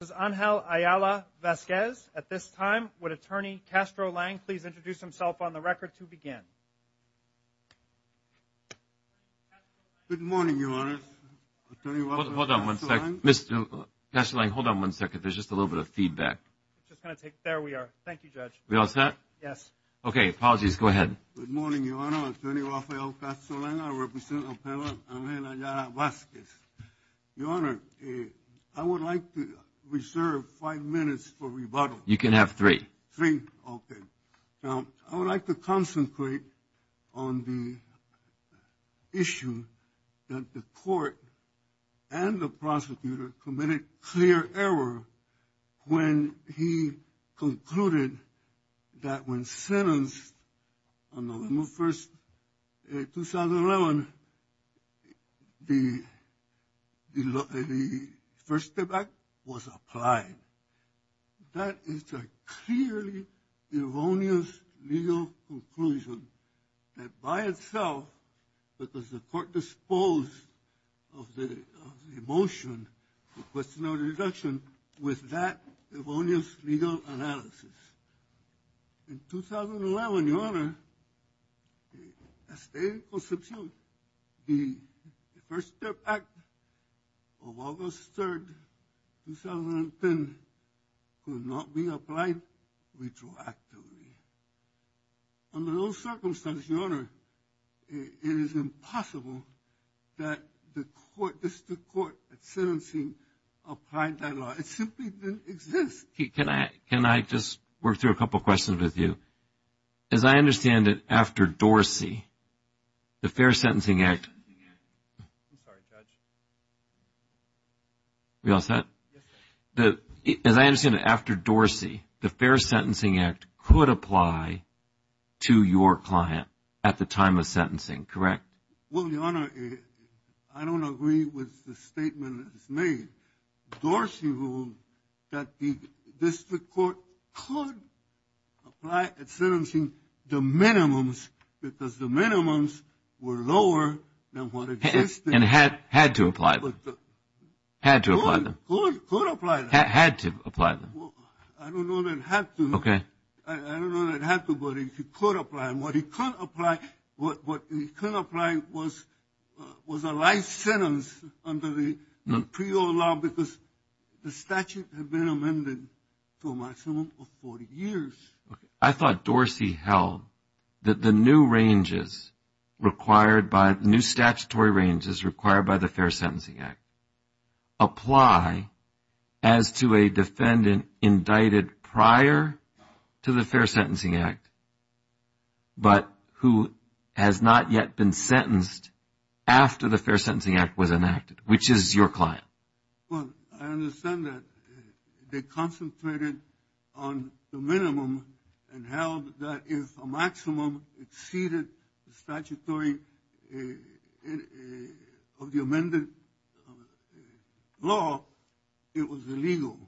Does Angel Ayala-Vazquez, at this time, would Attorney Castro Lang please introduce himself on the record to begin? Good morning, Your Honor. Hold on one second. Mr. Castro Lang, hold on one second. There's just a little bit of feedback. There we are. Thank you, Judge. Are we all set? Yes. Okay. Apologies. Go ahead. Good morning, Your Honor. Attorney Rafael Castro Lang, I represent Appellant Angel Ayala-Vazquez. Your Honor, I would like to reserve five minutes for rebuttal. You can have three. Three? Okay. The First Step Act was applied. That is a clearly erroneous legal conclusion that by itself, because the court disposed of the motion, the question of the deduction, with that erroneous legal analysis. In 2011, Your Honor, the state will substitute the First Step Act of August 3rd, 2010, could not be applied retroactively. Under those circumstances, Your Honor, it is impossible that the court, district court, at sentencing, applied that law. It simply didn't exist. Can I just work through a couple of questions with you? As I understand it, after Dorsey, the Fair Sentencing Act. I'm sorry, Judge. Are we all set? Yes, sir. As I understand it, after Dorsey, the Fair Sentencing Act could apply to your client at the time of sentencing, correct? Well, Your Honor, I don't agree with the statement that was made. Dorsey ruled that the district court could apply at sentencing the minimums because the minimums were lower than what existed. And had to apply them. Had to apply them. Could, could, could apply them. Had to apply them. I don't know that it had to. Okay. I don't know that it had to, but it could apply. And what it could apply, what it could apply was a life sentence under the pre-O law because the statute had been amended to a maximum of 40 years. I thought Dorsey held that the new ranges required by, new statutory ranges required by the Fair Sentencing Act apply as to a defendant indicted prior to the Fair Sentencing Act, but who has not yet been sentenced after the Fair Sentencing Act was enacted, which is your client. Well, I understand that. They concentrated on the minimum and held that if a maximum exceeded the statutory of the amended law, it was illegal.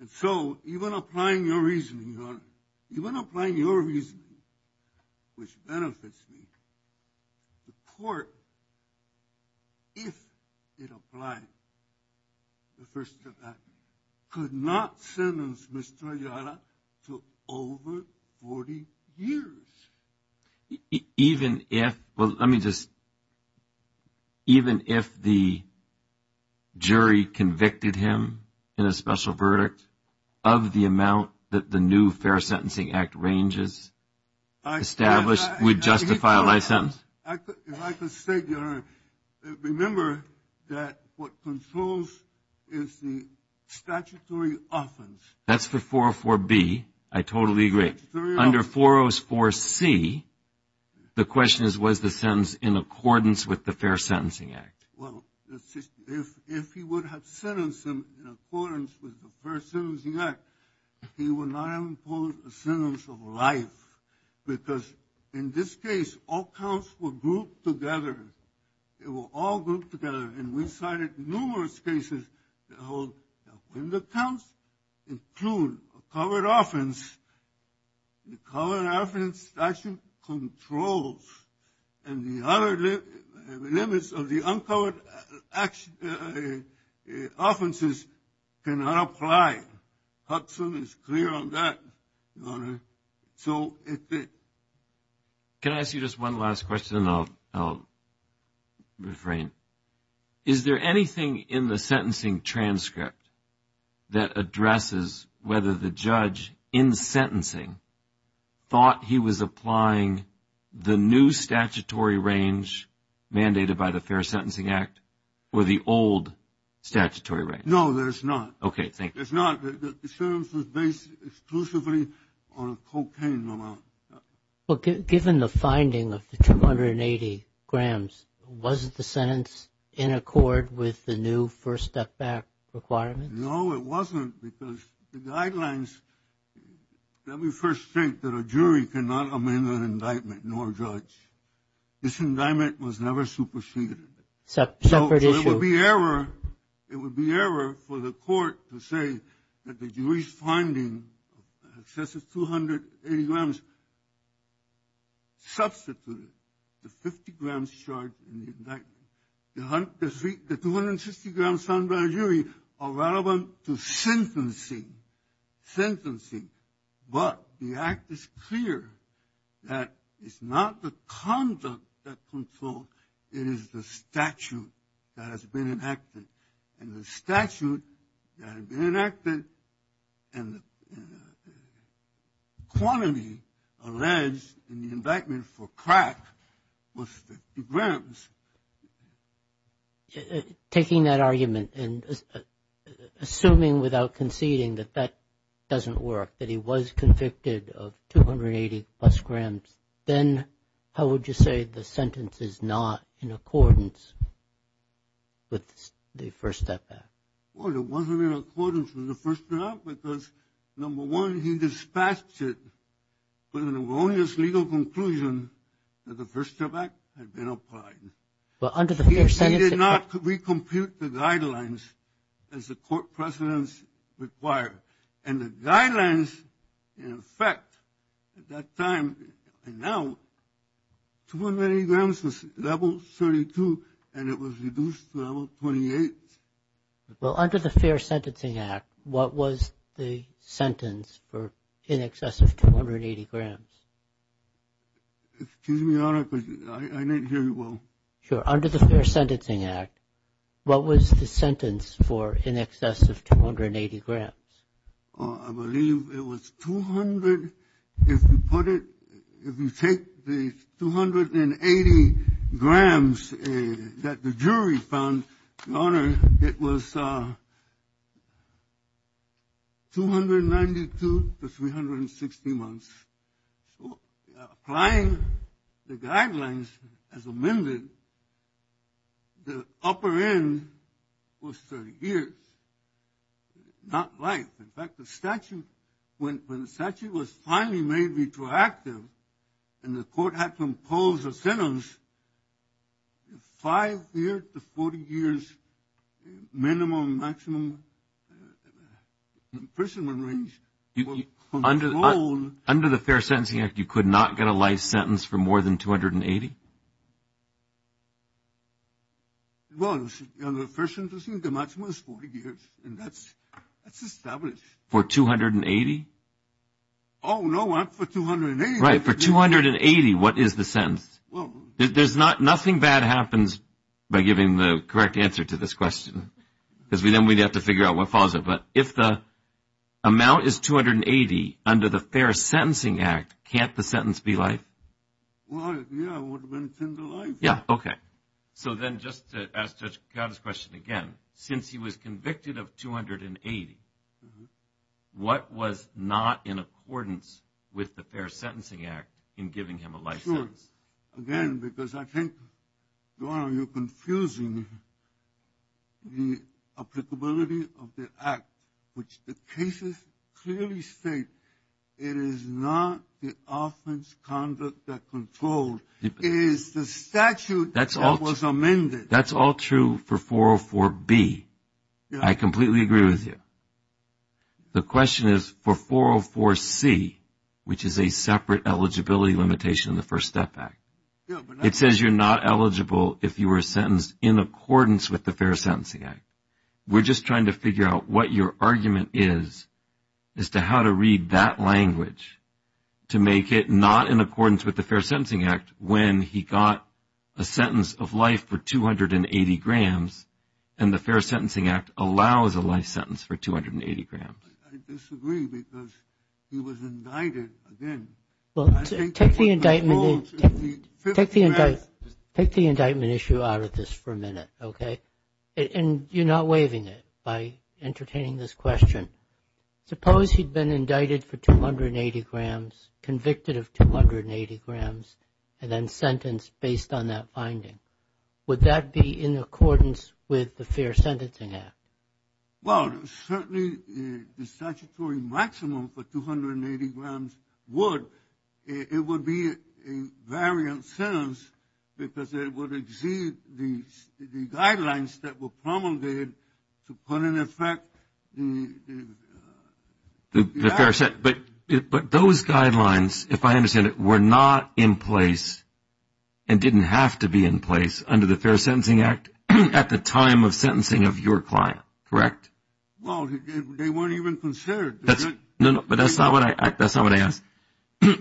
And so even applying your reasoning, Your Honor, even applying your reasoning, which benefits me, the court, if it applied the first of that, could not sentence Mr. Ayala to over 40 years. Even if, well, let me just, even if the jury convicted him in a special verdict of the amount that the new Fair Sentencing Act ranges established would justify a life sentence? If I could state, Your Honor, remember that what controls is the statutory offense. That's for 404B. I totally agree. Under 404C, the question is, was the sentence in accordance with the Fair Sentencing Act? Well, if he would have sentenced him in accordance with the Fair Sentencing Act, he would not have imposed a sentence of life. Because in this case, all counts were grouped together. They were all grouped together. And we cited numerous cases that hold that when the counts include a covered offense, the covered offense statute controls. And the other limits of the uncovered offenses cannot apply. Hudson is clear on that, Your Honor. Can I ask you just one last question? And I'll refrain. Is there anything in the sentencing transcript that addresses whether the judge in sentencing thought he was applying the new statutory range mandated by the Fair Sentencing Act or the old statutory range? No, there's not. Okay, thank you. There's not. The sentence was based exclusively on a cocaine amount. Well, given the finding of the 280 grams, was the sentence in accord with the new first step back requirements? No, it wasn't, because the guidelines, let me first state that a jury cannot amend an indictment, nor a judge. This indictment was never superseded. Separate issue. It would be error for the court to say that the jury's finding, excessive 280 grams, substituted the 50 grams charged in the indictment. The 260 grams found by a jury are relevant to sentencing. Sentencing. But the act is clear that it's not the conduct that controls, it is the statute that has been enacted. And the statute that had been enacted and the quantity alleged in the indictment for crack was 50 grams. Taking that argument and assuming without conceding that that doesn't work, that he was convicted of 280 plus grams, then how would you say the sentence is not in accordance with the First Step Act? Well, it wasn't in accordance with the First Step Act because, number one, he dispatched it with an erroneous legal conclusion that the First Step Act had been applied. He did not recompute the guidelines as the court precedents required. And the guidelines, in effect, at that time and now, 280 grams was level 32 and it was reduced to level 28. Well, under the Fair Sentencing Act, what was the sentence for in excess of 280 grams? Excuse me, Your Honor, because I didn't hear you well. Sure. Under the Fair Sentencing Act, what was the sentence for in excess of 280 grams? I believe it was 200, if you put it, if you take the 280 grams that the jury found, Your Honor, it was 292 to 360 months. So applying the guidelines as amended, the upper end was 30 years, not life. In fact, the statute, when the statute was finally made retroactive and the court had to impose a sentence, five years to 40 years minimum, maximum imprisonment range. Under the Fair Sentencing Act, you could not get a life sentence for more than 280? Well, under the Fair Sentencing Act, the maximum is 40 years and that's established. For 280? Oh, no, not for 280. Right, for 280, what is the sentence? Well. There's not, nothing bad happens by giving the correct answer to this question because then we'd have to figure out what follows it. But if the amount is 280 under the Fair Sentencing Act, can't the sentence be life? Well, yeah, it would have been a tender life. Yeah, okay. So then just to ask Judge Kacada's question again, since he was convicted of 280, what was not in accordance with the Fair Sentencing Act in giving him a life sentence? Sure, again, because I think you're confusing the applicability of the act, which the cases clearly state it is not the offense conduct that controlled, it is the statute that was amended. That's all true for 404B. I completely agree with you. The question is for 404C, which is a separate eligibility limitation in the First Step Act. It says you're not eligible if you were sentenced in accordance with the Fair Sentencing Act. We're just trying to figure out what your argument is as to how to read that language to make it not in accordance with the Fair Sentencing Act when he got a sentence of life for 280 grams and the Fair Sentencing Act allows a life sentence for 280 grams. I disagree because he was indicted again. Well, take the indictment issue out of this for a minute, okay? And you're not waiving it by entertaining this question. Suppose he'd been indicted for 280 grams, convicted of 280 grams, and then sentenced based on that finding. Would that be in accordance with the Fair Sentencing Act? Well, certainly the statutory maximum for 280 grams would. It would be a variant sentence because it would exceed the guidelines that were promulgated to put in effect the act. But those guidelines, if I understand it, were not in place and didn't have to be in place under the Fair Sentencing Act at the time of sentencing of your client, correct? Well, they weren't even considered. No, no, but that's not what I asked.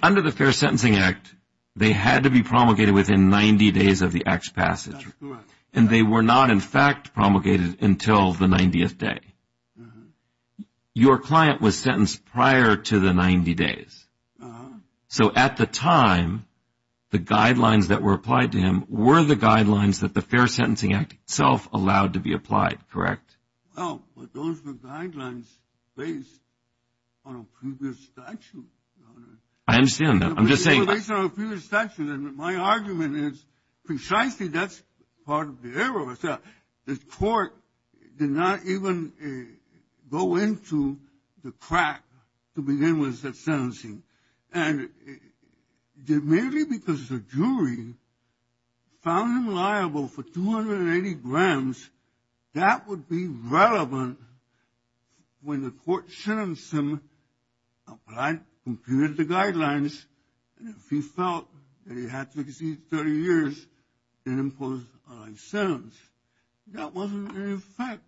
Under the Fair Sentencing Act, they had to be promulgated within 90 days of the act's passage. That's correct. And they were not, in fact, promulgated until the 90th day. Your client was sentenced prior to the 90 days. Uh-huh. So at the time, the guidelines that were applied to him were the guidelines that the Fair Sentencing Act itself allowed to be applied, correct? Well, but those were guidelines based on a previous statute. I understand that. They were based on a previous statute, and my argument is precisely that's part of the error. The court did not even go into the crack to begin with the sentencing. And merely because the jury found him liable for 280 grams, that would be relevant when the court sentenced him, applied, computed the guidelines, and if he felt that he had to exceed 30 years, then impose a life sentence. That wasn't in effect.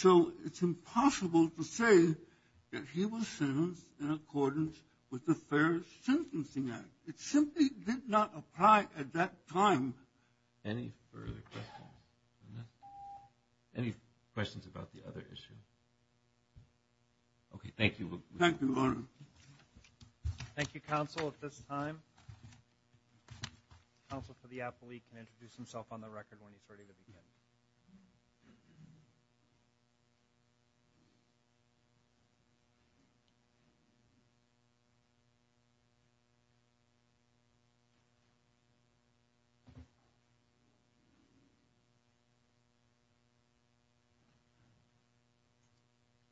So it's impossible to say that he was sentenced in accordance with the Fair Sentencing Act. It simply did not apply at that time. Any further questions? Any questions about the other issue? Okay. Thank you. Thank you, Your Honor. Thank you, counsel. At this time, counsel for the appellee can introduce himself on the record when he's ready to begin.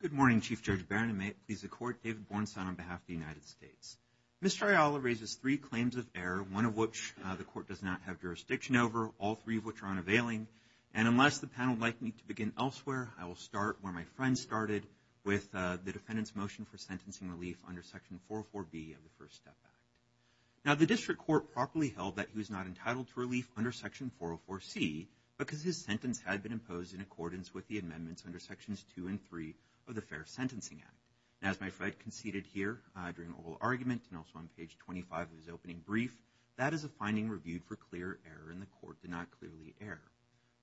Good morning, Chief Judge Barron, and may it please the court, David Bornstein on behalf of the United States. Mr. Ayala raises three claims of error, one of which the court does not have jurisdiction over, all three of which are unavailing. And unless the panel would like me to begin elsewhere, I will start where my friend started with the defendant's motion for sentencing relief under Section 404B of the First Step Act. Now, the district court properly held that he was not entitled to relief under Section 404C because his sentence had been imposed in accordance with the amendments under Sections 2 and 3 of the Fair Sentencing Act. Now, as my friend conceded here during the whole argument and also on page 25 of his opening brief, that is a finding reviewed for clear error, and the court did not clearly err.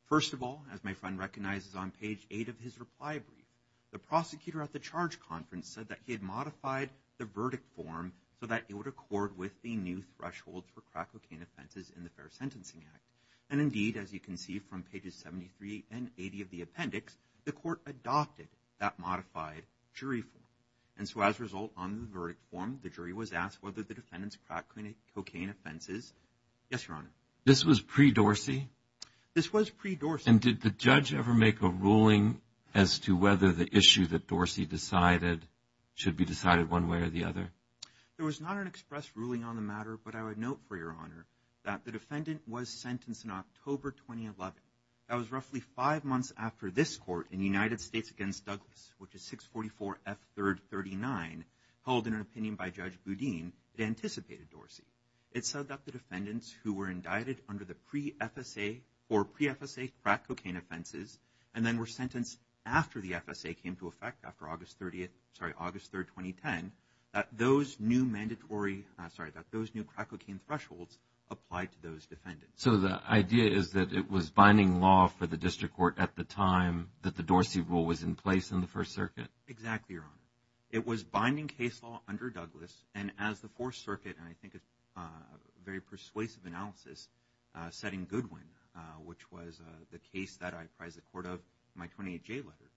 First of all, as my friend recognizes on page 8 of his reply brief, the prosecutor at the charge conference said that he had modified the verdict form so that it would accord with the new threshold for crack cocaine offenses in the Fair Sentencing Act. And indeed, as you can see from pages 73 and 80 of the appendix, the court adopted that modified jury form. And so as a result, on the verdict form, the jury was asked whether the defendant's crack cocaine offenses – yes, Your Honor. This was pre-Dorsey? This was pre-Dorsey. And did the judge ever make a ruling as to whether the issue that Dorsey decided should be decided one way or the other? There was not an express ruling on the matter, but I would note for Your Honor that the defendant was sentenced in October 2011. That was roughly five months after this court in the United States against Douglas, which is 644 F. 3rd 39, held in an opinion by Judge Boudin, anticipated Dorsey. It said that the defendants who were indicted under the pre-FSA or pre-FSA crack cocaine offenses and then were sentenced after the FSA came to effect after August 30th – sorry, August 3rd, 2010, that those new mandatory – sorry, that those new crack cocaine thresholds applied to those defendants. So the idea is that it was binding law for the district court at the time that the Dorsey rule was in place in the First Circuit? Exactly, Your Honor. It was binding case law under Douglas, and as the Fourth Circuit, and I think a very persuasive analysis, said in Goodwin, which was the case that I apprised the court of in my 28-J letter,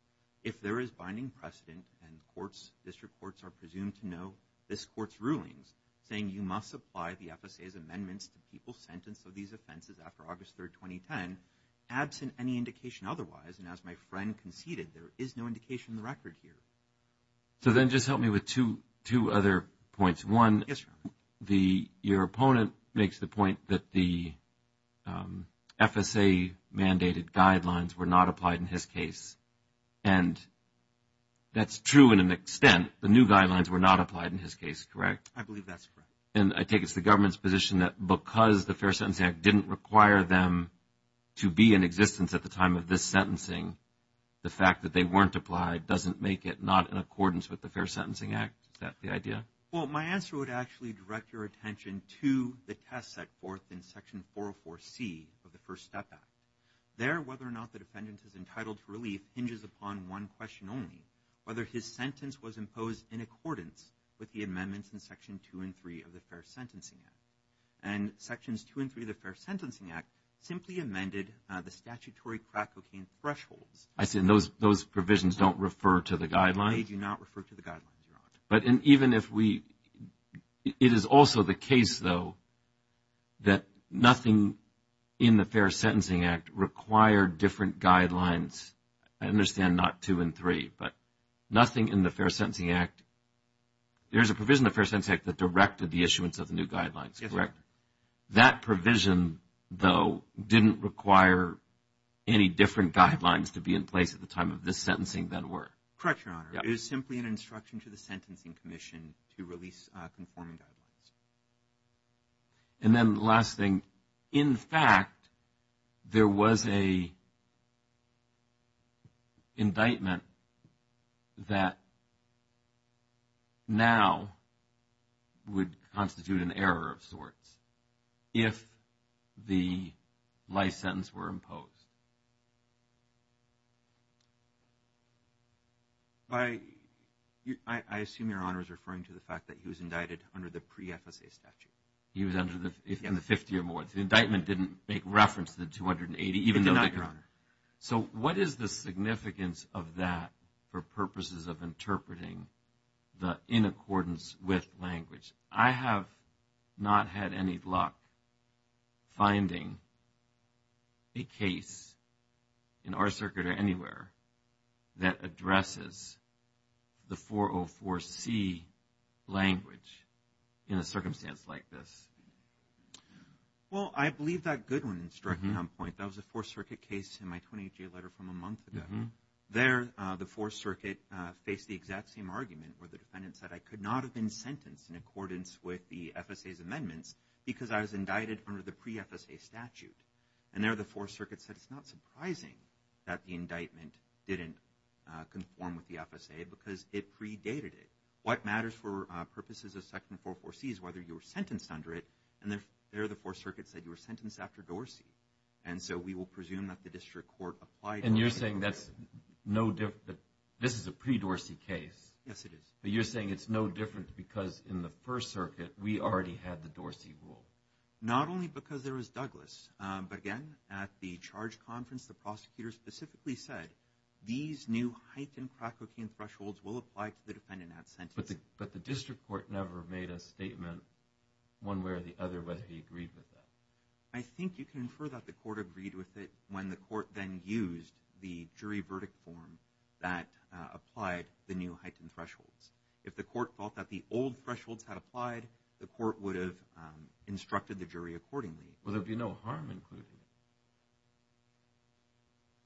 if there is binding precedent and courts, district courts are presumed to know this court's rulings, saying you must apply the FSA's amendments to the people sentenced to these offenses after August 3rd, 2010, absent any indication otherwise, and as my friend conceded, there is no indication in the record here. So then just help me with two other points. One, your opponent makes the point that the FSA-mandated guidelines were not applied in his case, and that's true in an extent. The new guidelines were not applied in his case, correct? I believe that's correct. And I think it's the government's position that because the Fair Sentencing Act didn't require them to be in existence at the time of this sentencing, the fact that they weren't applied doesn't make it not in accordance with the Fair Sentencing Act. Is that the idea? Well, my answer would actually direct your attention to the test set forth in Section 404C of the First Step Act. There, whether or not the defendant is entitled to relief hinges upon one question only, whether his sentence was imposed in accordance with the amendments in Section 2 and 3 of the Fair Sentencing Act. And Sections 2 and 3 of the Fair Sentencing Act simply amended the statutory crack cocaine thresholds. I see. And those provisions don't refer to the guidelines? They do not refer to the guidelines, Your Honor. But even if we – it is also the case, though, that nothing in the Fair Sentencing Act required different guidelines. I understand not 2 and 3, but nothing in the Fair Sentencing Act – there's a provision in the Fair Sentencing Act that directed the issuance of the new guidelines, correct? Yes. That provision, though, didn't require any different guidelines to be in place at the time of this sentencing than were. Correct, Your Honor. It was simply an instruction to the Sentencing Commission to release conforming guidelines. And then the last thing. In fact, there was an indictment that now would constitute an error of sorts if the life sentence were imposed. I assume Your Honor is referring to the fact that he was indicted under the pre-FSA statute. He was in the 50 or more. The indictment didn't make reference to the 280, even though – It did not, Your Honor. So what is the significance of that for purposes of interpreting the in accordance with language? I have not had any luck finding a case in our circuit or anywhere that addresses the 404C language in a circumstance like this. Well, I believe that Goodwin instruction on point. That was a Fourth Circuit case in my 28-day letter from a month ago. There the Fourth Circuit faced the exact same argument where the defendant said, I could not have been sentenced in accordance with the FSA's amendments because I was indicted under the pre-FSA statute. And there the Fourth Circuit said it's not surprising that the indictment didn't conform with the FSA because it predated it. What matters for purposes of section 404C is whether you were sentenced under it. And there the Fourth Circuit said you were sentenced after Dorsey. And you're saying that's no – this is a pre-Dorsey case. Yes, it is. But you're saying it's no different because in the First Circuit, we already had the Dorsey rule. Not only because there was Douglas, but again, at the charge conference, the prosecutor specifically said these new heightened crack cocaine thresholds will apply to the defendant at sentence. But the district court never made a statement one way or the other whether he agreed with that. I think you can infer that the court agreed with it when the court then used the jury verdict form that applied the new heightened thresholds. If the court felt that the old thresholds had applied, the court would have instructed the jury accordingly. Well, there would be no harm in including it.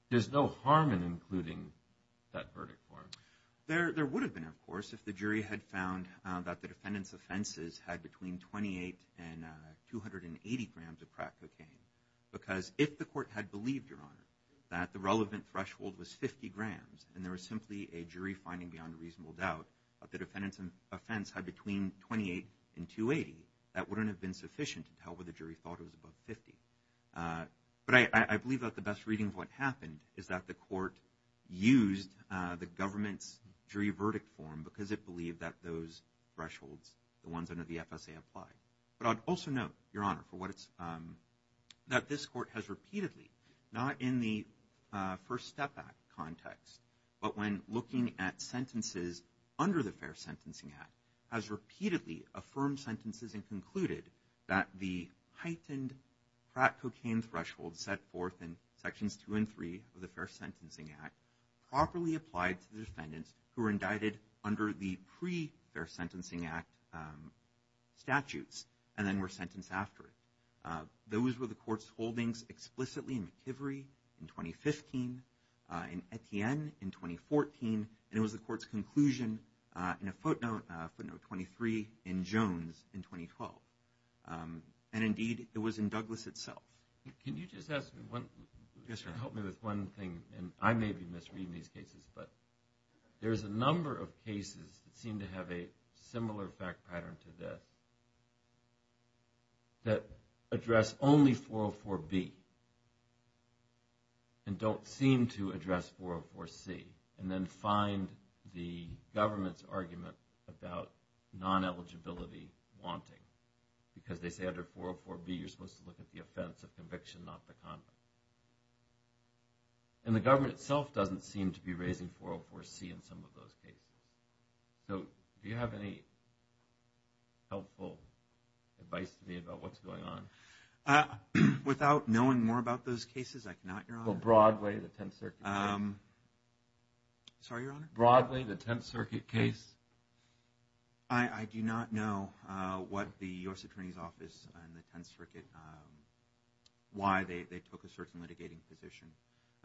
There's no harm in including that verdict form. There would have been, of course, if the jury had found that the defendant's offenses had between 28 and 280 grams of crack cocaine. Because if the court had believed, Your Honor, that the relevant threshold was 50 grams and there was simply a jury finding beyond reasonable doubt that the defendant's offense had between 28 and 280, that wouldn't have been sufficient to tell whether the jury thought it was above 50. But I believe that the best reading of what happened is that the court used the government's jury verdict form because it believed that those thresholds, the ones under the FSA, applied. But I'd also note, Your Honor, that this court has repeatedly, not in the First Step Act context, but when looking at sentences under the Fair Sentencing Act, has repeatedly affirmed sentences and concluded that the heightened crack cocaine threshold set forth in Sections 2 and 3 of the Fair Sentencing Act properly applied to defendants who were indicted under the pre-Fair Sentencing Act statutes and then were sentenced after. Those were the court's holdings explicitly in McIvery in 2015, in Etienne in 2014, and it was the court's conclusion in a footnote, footnote 23 in Jones in 2012. And indeed, it was in Douglas itself. Can you just help me with one thing, and I may be misreading these cases, but there's a number of cases that seem to have a similar fact pattern to this that address only 404B and don't seem to address 404C and then find the government's argument about non-eligibility wanting because they say under 404B you're supposed to look at the offense of conviction, not the conduct. And the government itself doesn't seem to be raising 404C in some of those cases. So do you have any helpful advice to me about what's going on? Without knowing more about those cases, I cannot, Your Honor. Well, broadly, the Tenth Circuit case. Sorry, Your Honor? Broadly, the Tenth Circuit case. I do not know what the U.S. Attorney's Office and the Tenth Circuit, why they took a certain litigating position.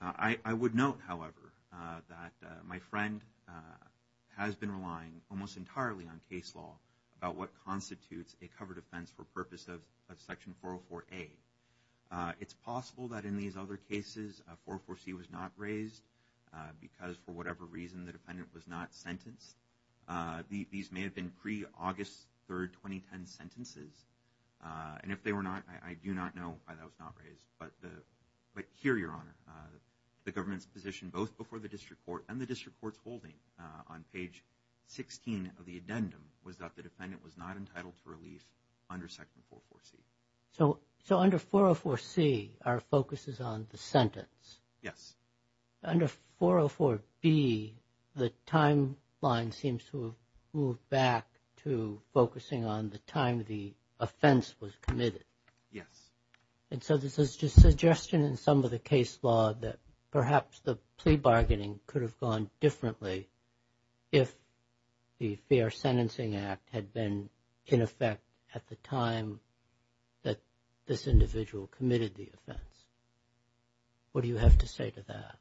I would note, however, that my friend has been relying almost entirely on case law about what constitutes a covered offense for purpose of Section 404A. It's possible that in these other cases 404C was not raised because, for whatever reason, the defendant was not sentenced. These may have been pre-August 3, 2010 sentences. And if they were not, I do not know why that was not raised. But here, Your Honor, the government's position both before the district court and the district court's holding on page 16 of the addendum was that the defendant was not entitled to relief under Section 404C. So under 404C, our focus is on the sentence. Yes. Under 404B, the timeline seems to have moved back to focusing on the time the offense was committed. Yes. And so this is just a suggestion in some of the case law that perhaps the plea bargaining could have gone differently if the Fair Sentencing Act had been in effect at the time that this individual committed the offense. What do you have to say to that?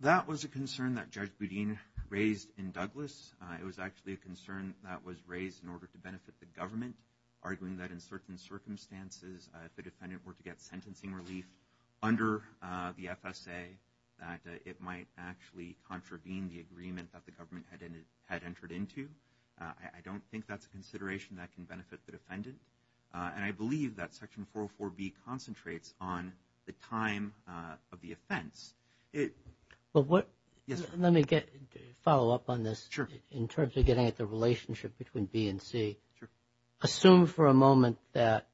That was a concern that Judge Boudin raised in Douglas. It was actually a concern that was raised in order to benefit the government, arguing that in certain circumstances if the defendant were to get sentencing relief under the FSA, that it might actually contravene the agreement that the government had entered into. I don't think that's a consideration that can benefit the defendant. And I believe that Section 404B concentrates on the time of the offense. Let me follow up on this in terms of getting at the relationship between B and C. Assume for a moment that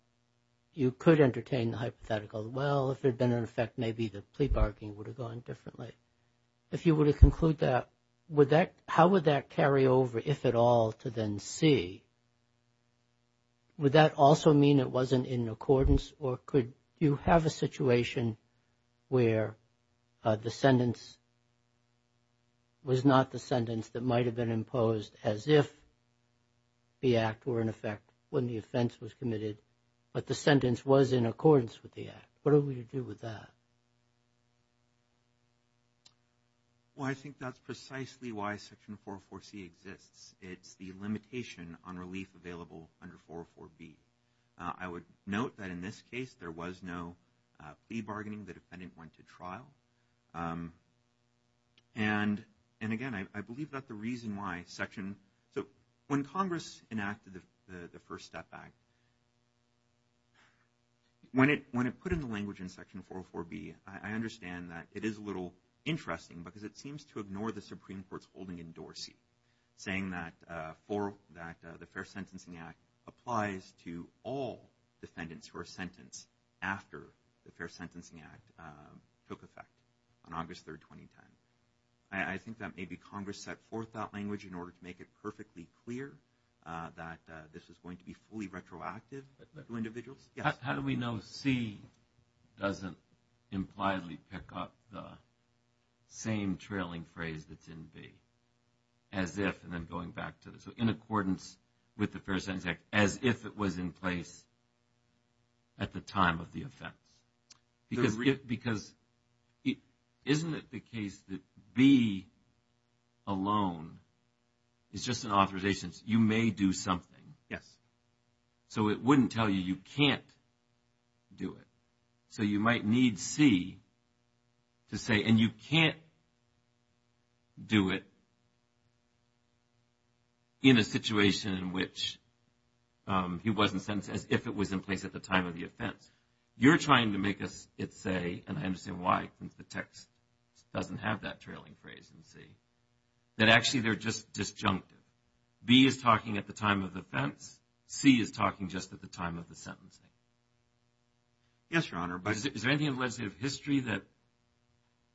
you could entertain the hypothetical, well, if it had been in effect, maybe the plea bargaining would have gone differently. If you were to conclude that, how would that carry over, if at all, to then C? Would that also mean it wasn't in accordance, or could you have a situation where the sentence was not the sentence that might have been imposed as if the act were in effect when the offense was committed, but the sentence was in accordance with the act? What are we to do with that? Well, I think that's precisely why Section 404C exists. It's the limitation on relief available under 404B. I would note that in this case, there was no plea bargaining. The defendant went to trial. And, again, I believe that the reason why Section – so when Congress enacted the First Step Act, when it put in the language in Section 404B, I understand that it is a little interesting because it seems to ignore the Supreme Court's holding in Dorsey, saying that the Fair Sentencing Act applies to all defendants who are sentenced after the Fair Sentencing Act took effect on August 3, 2010. I think that maybe Congress set forth that language in order to make it perfectly clear that this was going to be fully retroactive to individuals. How do we know C doesn't impliedly pick up the same trailing phrase that's in B, as if, and then going back to this, in accordance with the Fair Sentencing Act, as if it was in place at the time of the offense? Because isn't it the case that B alone is just an authorization? You may do something. Yes. So it wouldn't tell you you can't do it. So you might need C to say, and you can't do it in a situation in which he wasn't sentenced, as if it was in place at the time of the offense. You're trying to make it say, and I understand why, since the text doesn't have that trailing phrase in C, that actually they're just disjunctive. B is talking at the time of the offense. C is talking just at the time of the sentencing. Yes, Your Honor. Is there anything in legislative history that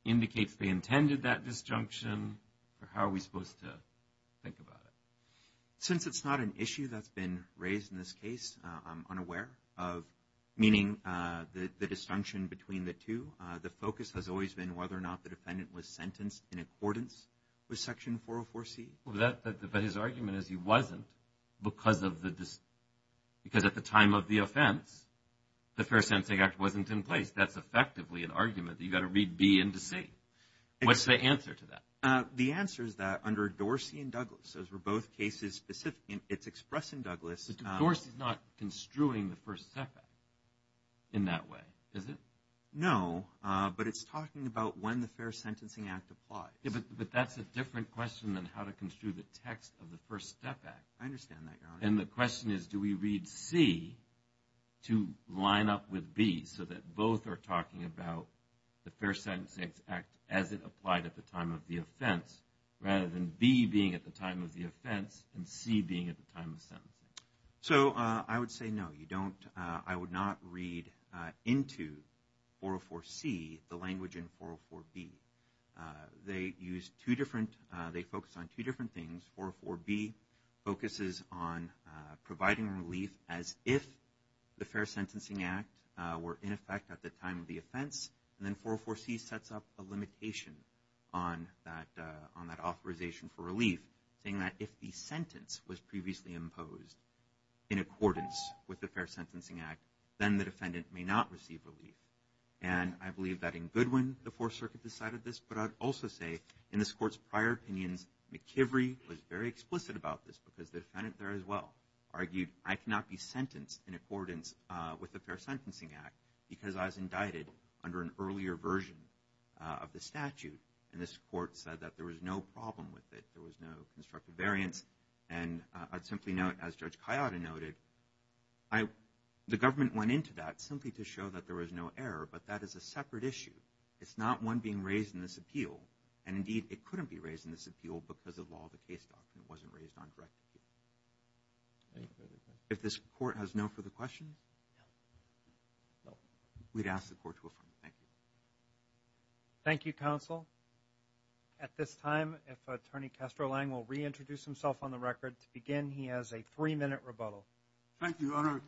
indicates they intended that disjunction, or how are we supposed to think about it? Since it's not an issue that's been raised in this case, I'm unaware of meaning the disjunction between the two. The focus has always been whether or not the defendant was sentenced in accordance with Section 404C. But his argument is he wasn't because at the time of the offense, the Fair Sentencing Act wasn't in place. That's effectively an argument that you've got to read B into C. What's the answer to that? The answer is that under Dorsey and Douglas, those were both cases specific. It's expressed in Douglas. Dorsey's not construing the First Sex Act in that way, is it? No, but it's talking about when the Fair Sentencing Act applies. But that's a different question than how to construe the text of the First Step Act. I understand that, Your Honor. And the question is, do we read C to line up with B, so that both are talking about the Fair Sentencing Act as it applied at the time of the offense, rather than B being at the time of the offense and C being at the time of sentencing? So I would say no. I would not read into 404C the language in 404B. They focus on two different things. 404B focuses on providing relief as if the Fair Sentencing Act were in effect at the time of the offense. And then 404C sets up a limitation on that authorization for relief, saying that if the sentence was previously imposed in accordance with the Fair Sentencing Act, then the defendant may not receive relief. And I believe that in Goodwin, the Fourth Circuit decided this. But I would also say, in this Court's prior opinions, McIvery was very explicit about this because the defendant there as well argued, I cannot be sentenced in accordance with the Fair Sentencing Act because I was indicted under an earlier version of the statute. And this Court said that there was no problem with it. There was no constructive variance. And I'd simply note, as Judge Ciotta noted, the government went into that simply to show that there was no error. But that is a separate issue. It's not one being raised in this appeal. And, indeed, it couldn't be raised in this appeal because the law of the case document wasn't raised on direct appeal. If this Court has no further questions, we'd ask the Court to affirm. Thank you. Thank you, Counsel. At this time, if Attorney Kestrelang will reintroduce himself on the record. To begin, he has a three-minute rebuttal. Thank you, Your Honor.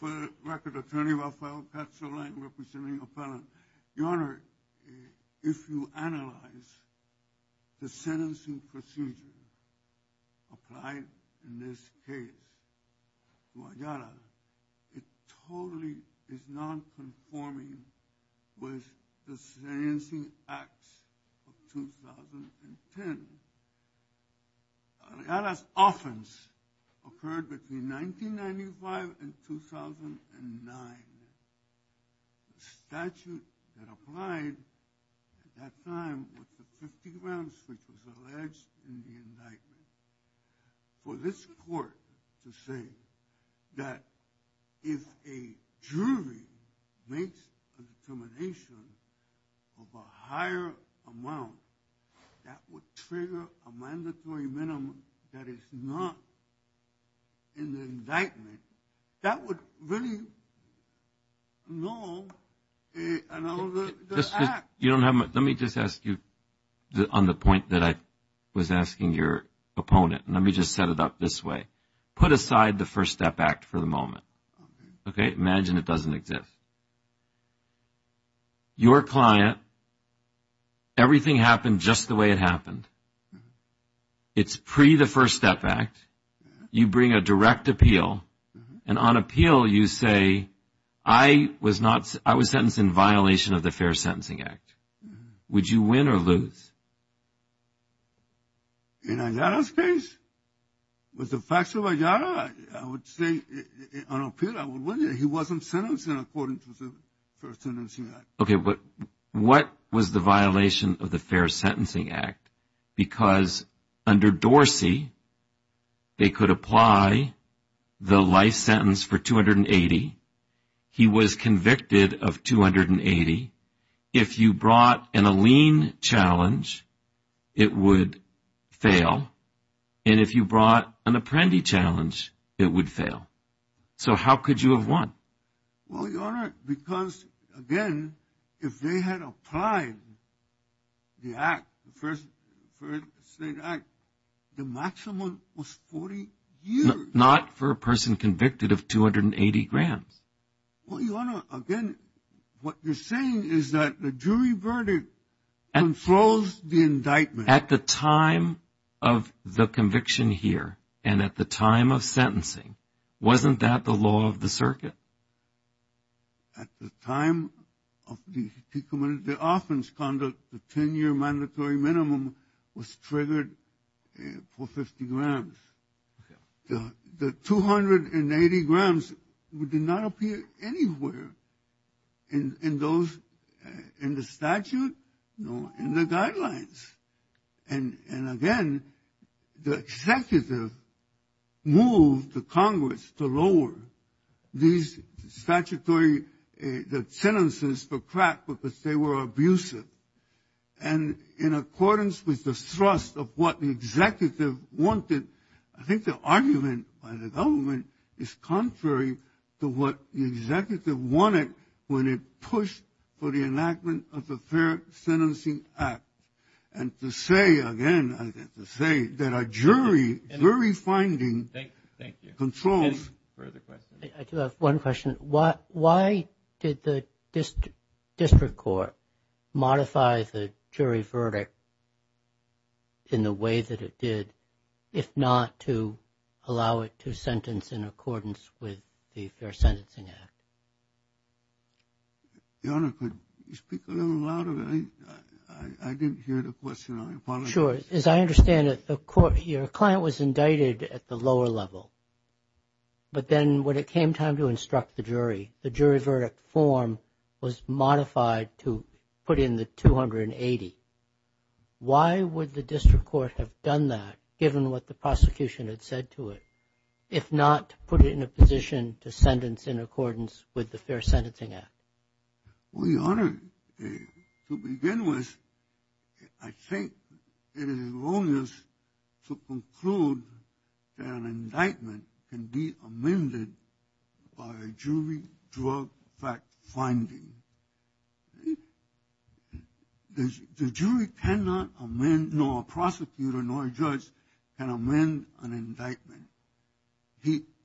For the record, Attorney Rafael Kestrelang, representing a felon. Your Honor, if you analyze the sentencing procedure applied in this case to Ayala, it totally is nonconforming with the Sentencing Act of 2010. Ayala's offense occurred between 1995 and 2009. The statute that applied at that time was the 50 rounds which was alleged in the indictment. For this Court to say that if a jury makes a determination of a higher amount, that would trigger a mandatory minimum that is not in the indictment, that would really null the act. Let me just ask you on the point that I was asking your opponent. Let me just set it up this way. Put aside the First Step Act for the moment. Imagine it doesn't exist. Your client, everything happened just the way it happened. It's pre the First Step Act. You bring a direct appeal. And on appeal you say, I was sentenced in violation of the Fair Sentencing Act. Would you win or lose? In Ayala's case, with the facts of Ayala, I would say on appeal I would win. He wasn't sentenced according to the Fair Sentencing Act. Okay, but what was the violation of the Fair Sentencing Act? Because under Dorsey, they could apply the life sentence for 280. He was convicted of 280. If you brought in a lien challenge, it would fail. And if you brought an apprendee challenge, it would fail. So how could you have won? Well, Your Honor, because, again, if they had applied the Act, the First State Act, the maximum was 40 years. Not for a person convicted of 280 grams. Well, Your Honor, again, what you're saying is that the jury verdict controls the indictment. At the time of the conviction here and at the time of sentencing, wasn't that the law of the circuit? At the time of the offense conduct, the 10-year mandatory minimum was triggered for 50 grams. The 280 grams did not appear anywhere in those, in the statute, no, in the guidelines. And, again, the executive moved the Congress to lower these statutory sentences for crack because they were abusive. And in accordance with the thrust of what the executive wanted, I think the argument by the government is contrary to what the executive wanted when it pushed for the enactment of the Fair Sentencing Act. And to say, again, to say that a jury, jury finding controls. I do have one question. Why did the district court modify the jury verdict in the way that it did, if not to allow it to sentence in accordance with the Fair Sentencing Act? Your Honor, could you speak a little louder? I didn't hear the question. I apologize. Sure. As I understand it, your client was indicted at the lower level. But then when it came time to instruct the jury, the jury verdict form was modified to put in the 280. Why would the district court have done that, given what the prosecution had said to it, if not to put it in a position to sentence in accordance with the Fair Sentencing Act? Well, your Honor, to begin with, I think it is wrongness to conclude that an indictment can be amended by a jury drug fact finding. The jury cannot amend, nor a prosecutor, nor a judge, can amend an indictment.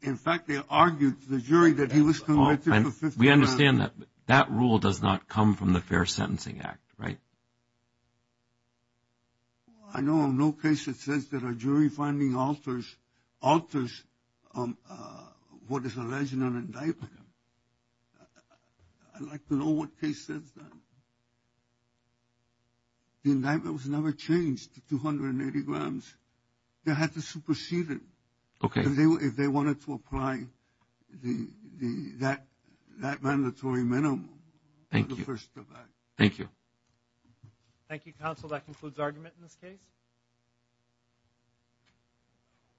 In fact, they argued to the jury that he was convicted for 15 years. We understand that. That rule does not come from the Fair Sentencing Act, right? I know of no case that says that a jury finding alters what is alleged in an indictment. I'd like to know what case says that. The indictment was never changed to 280 grams. They had to supersede it. Okay. If they wanted to apply that mandatory minimum. Thank you. Thank you. Thank you, counsel. That concludes argument in this case.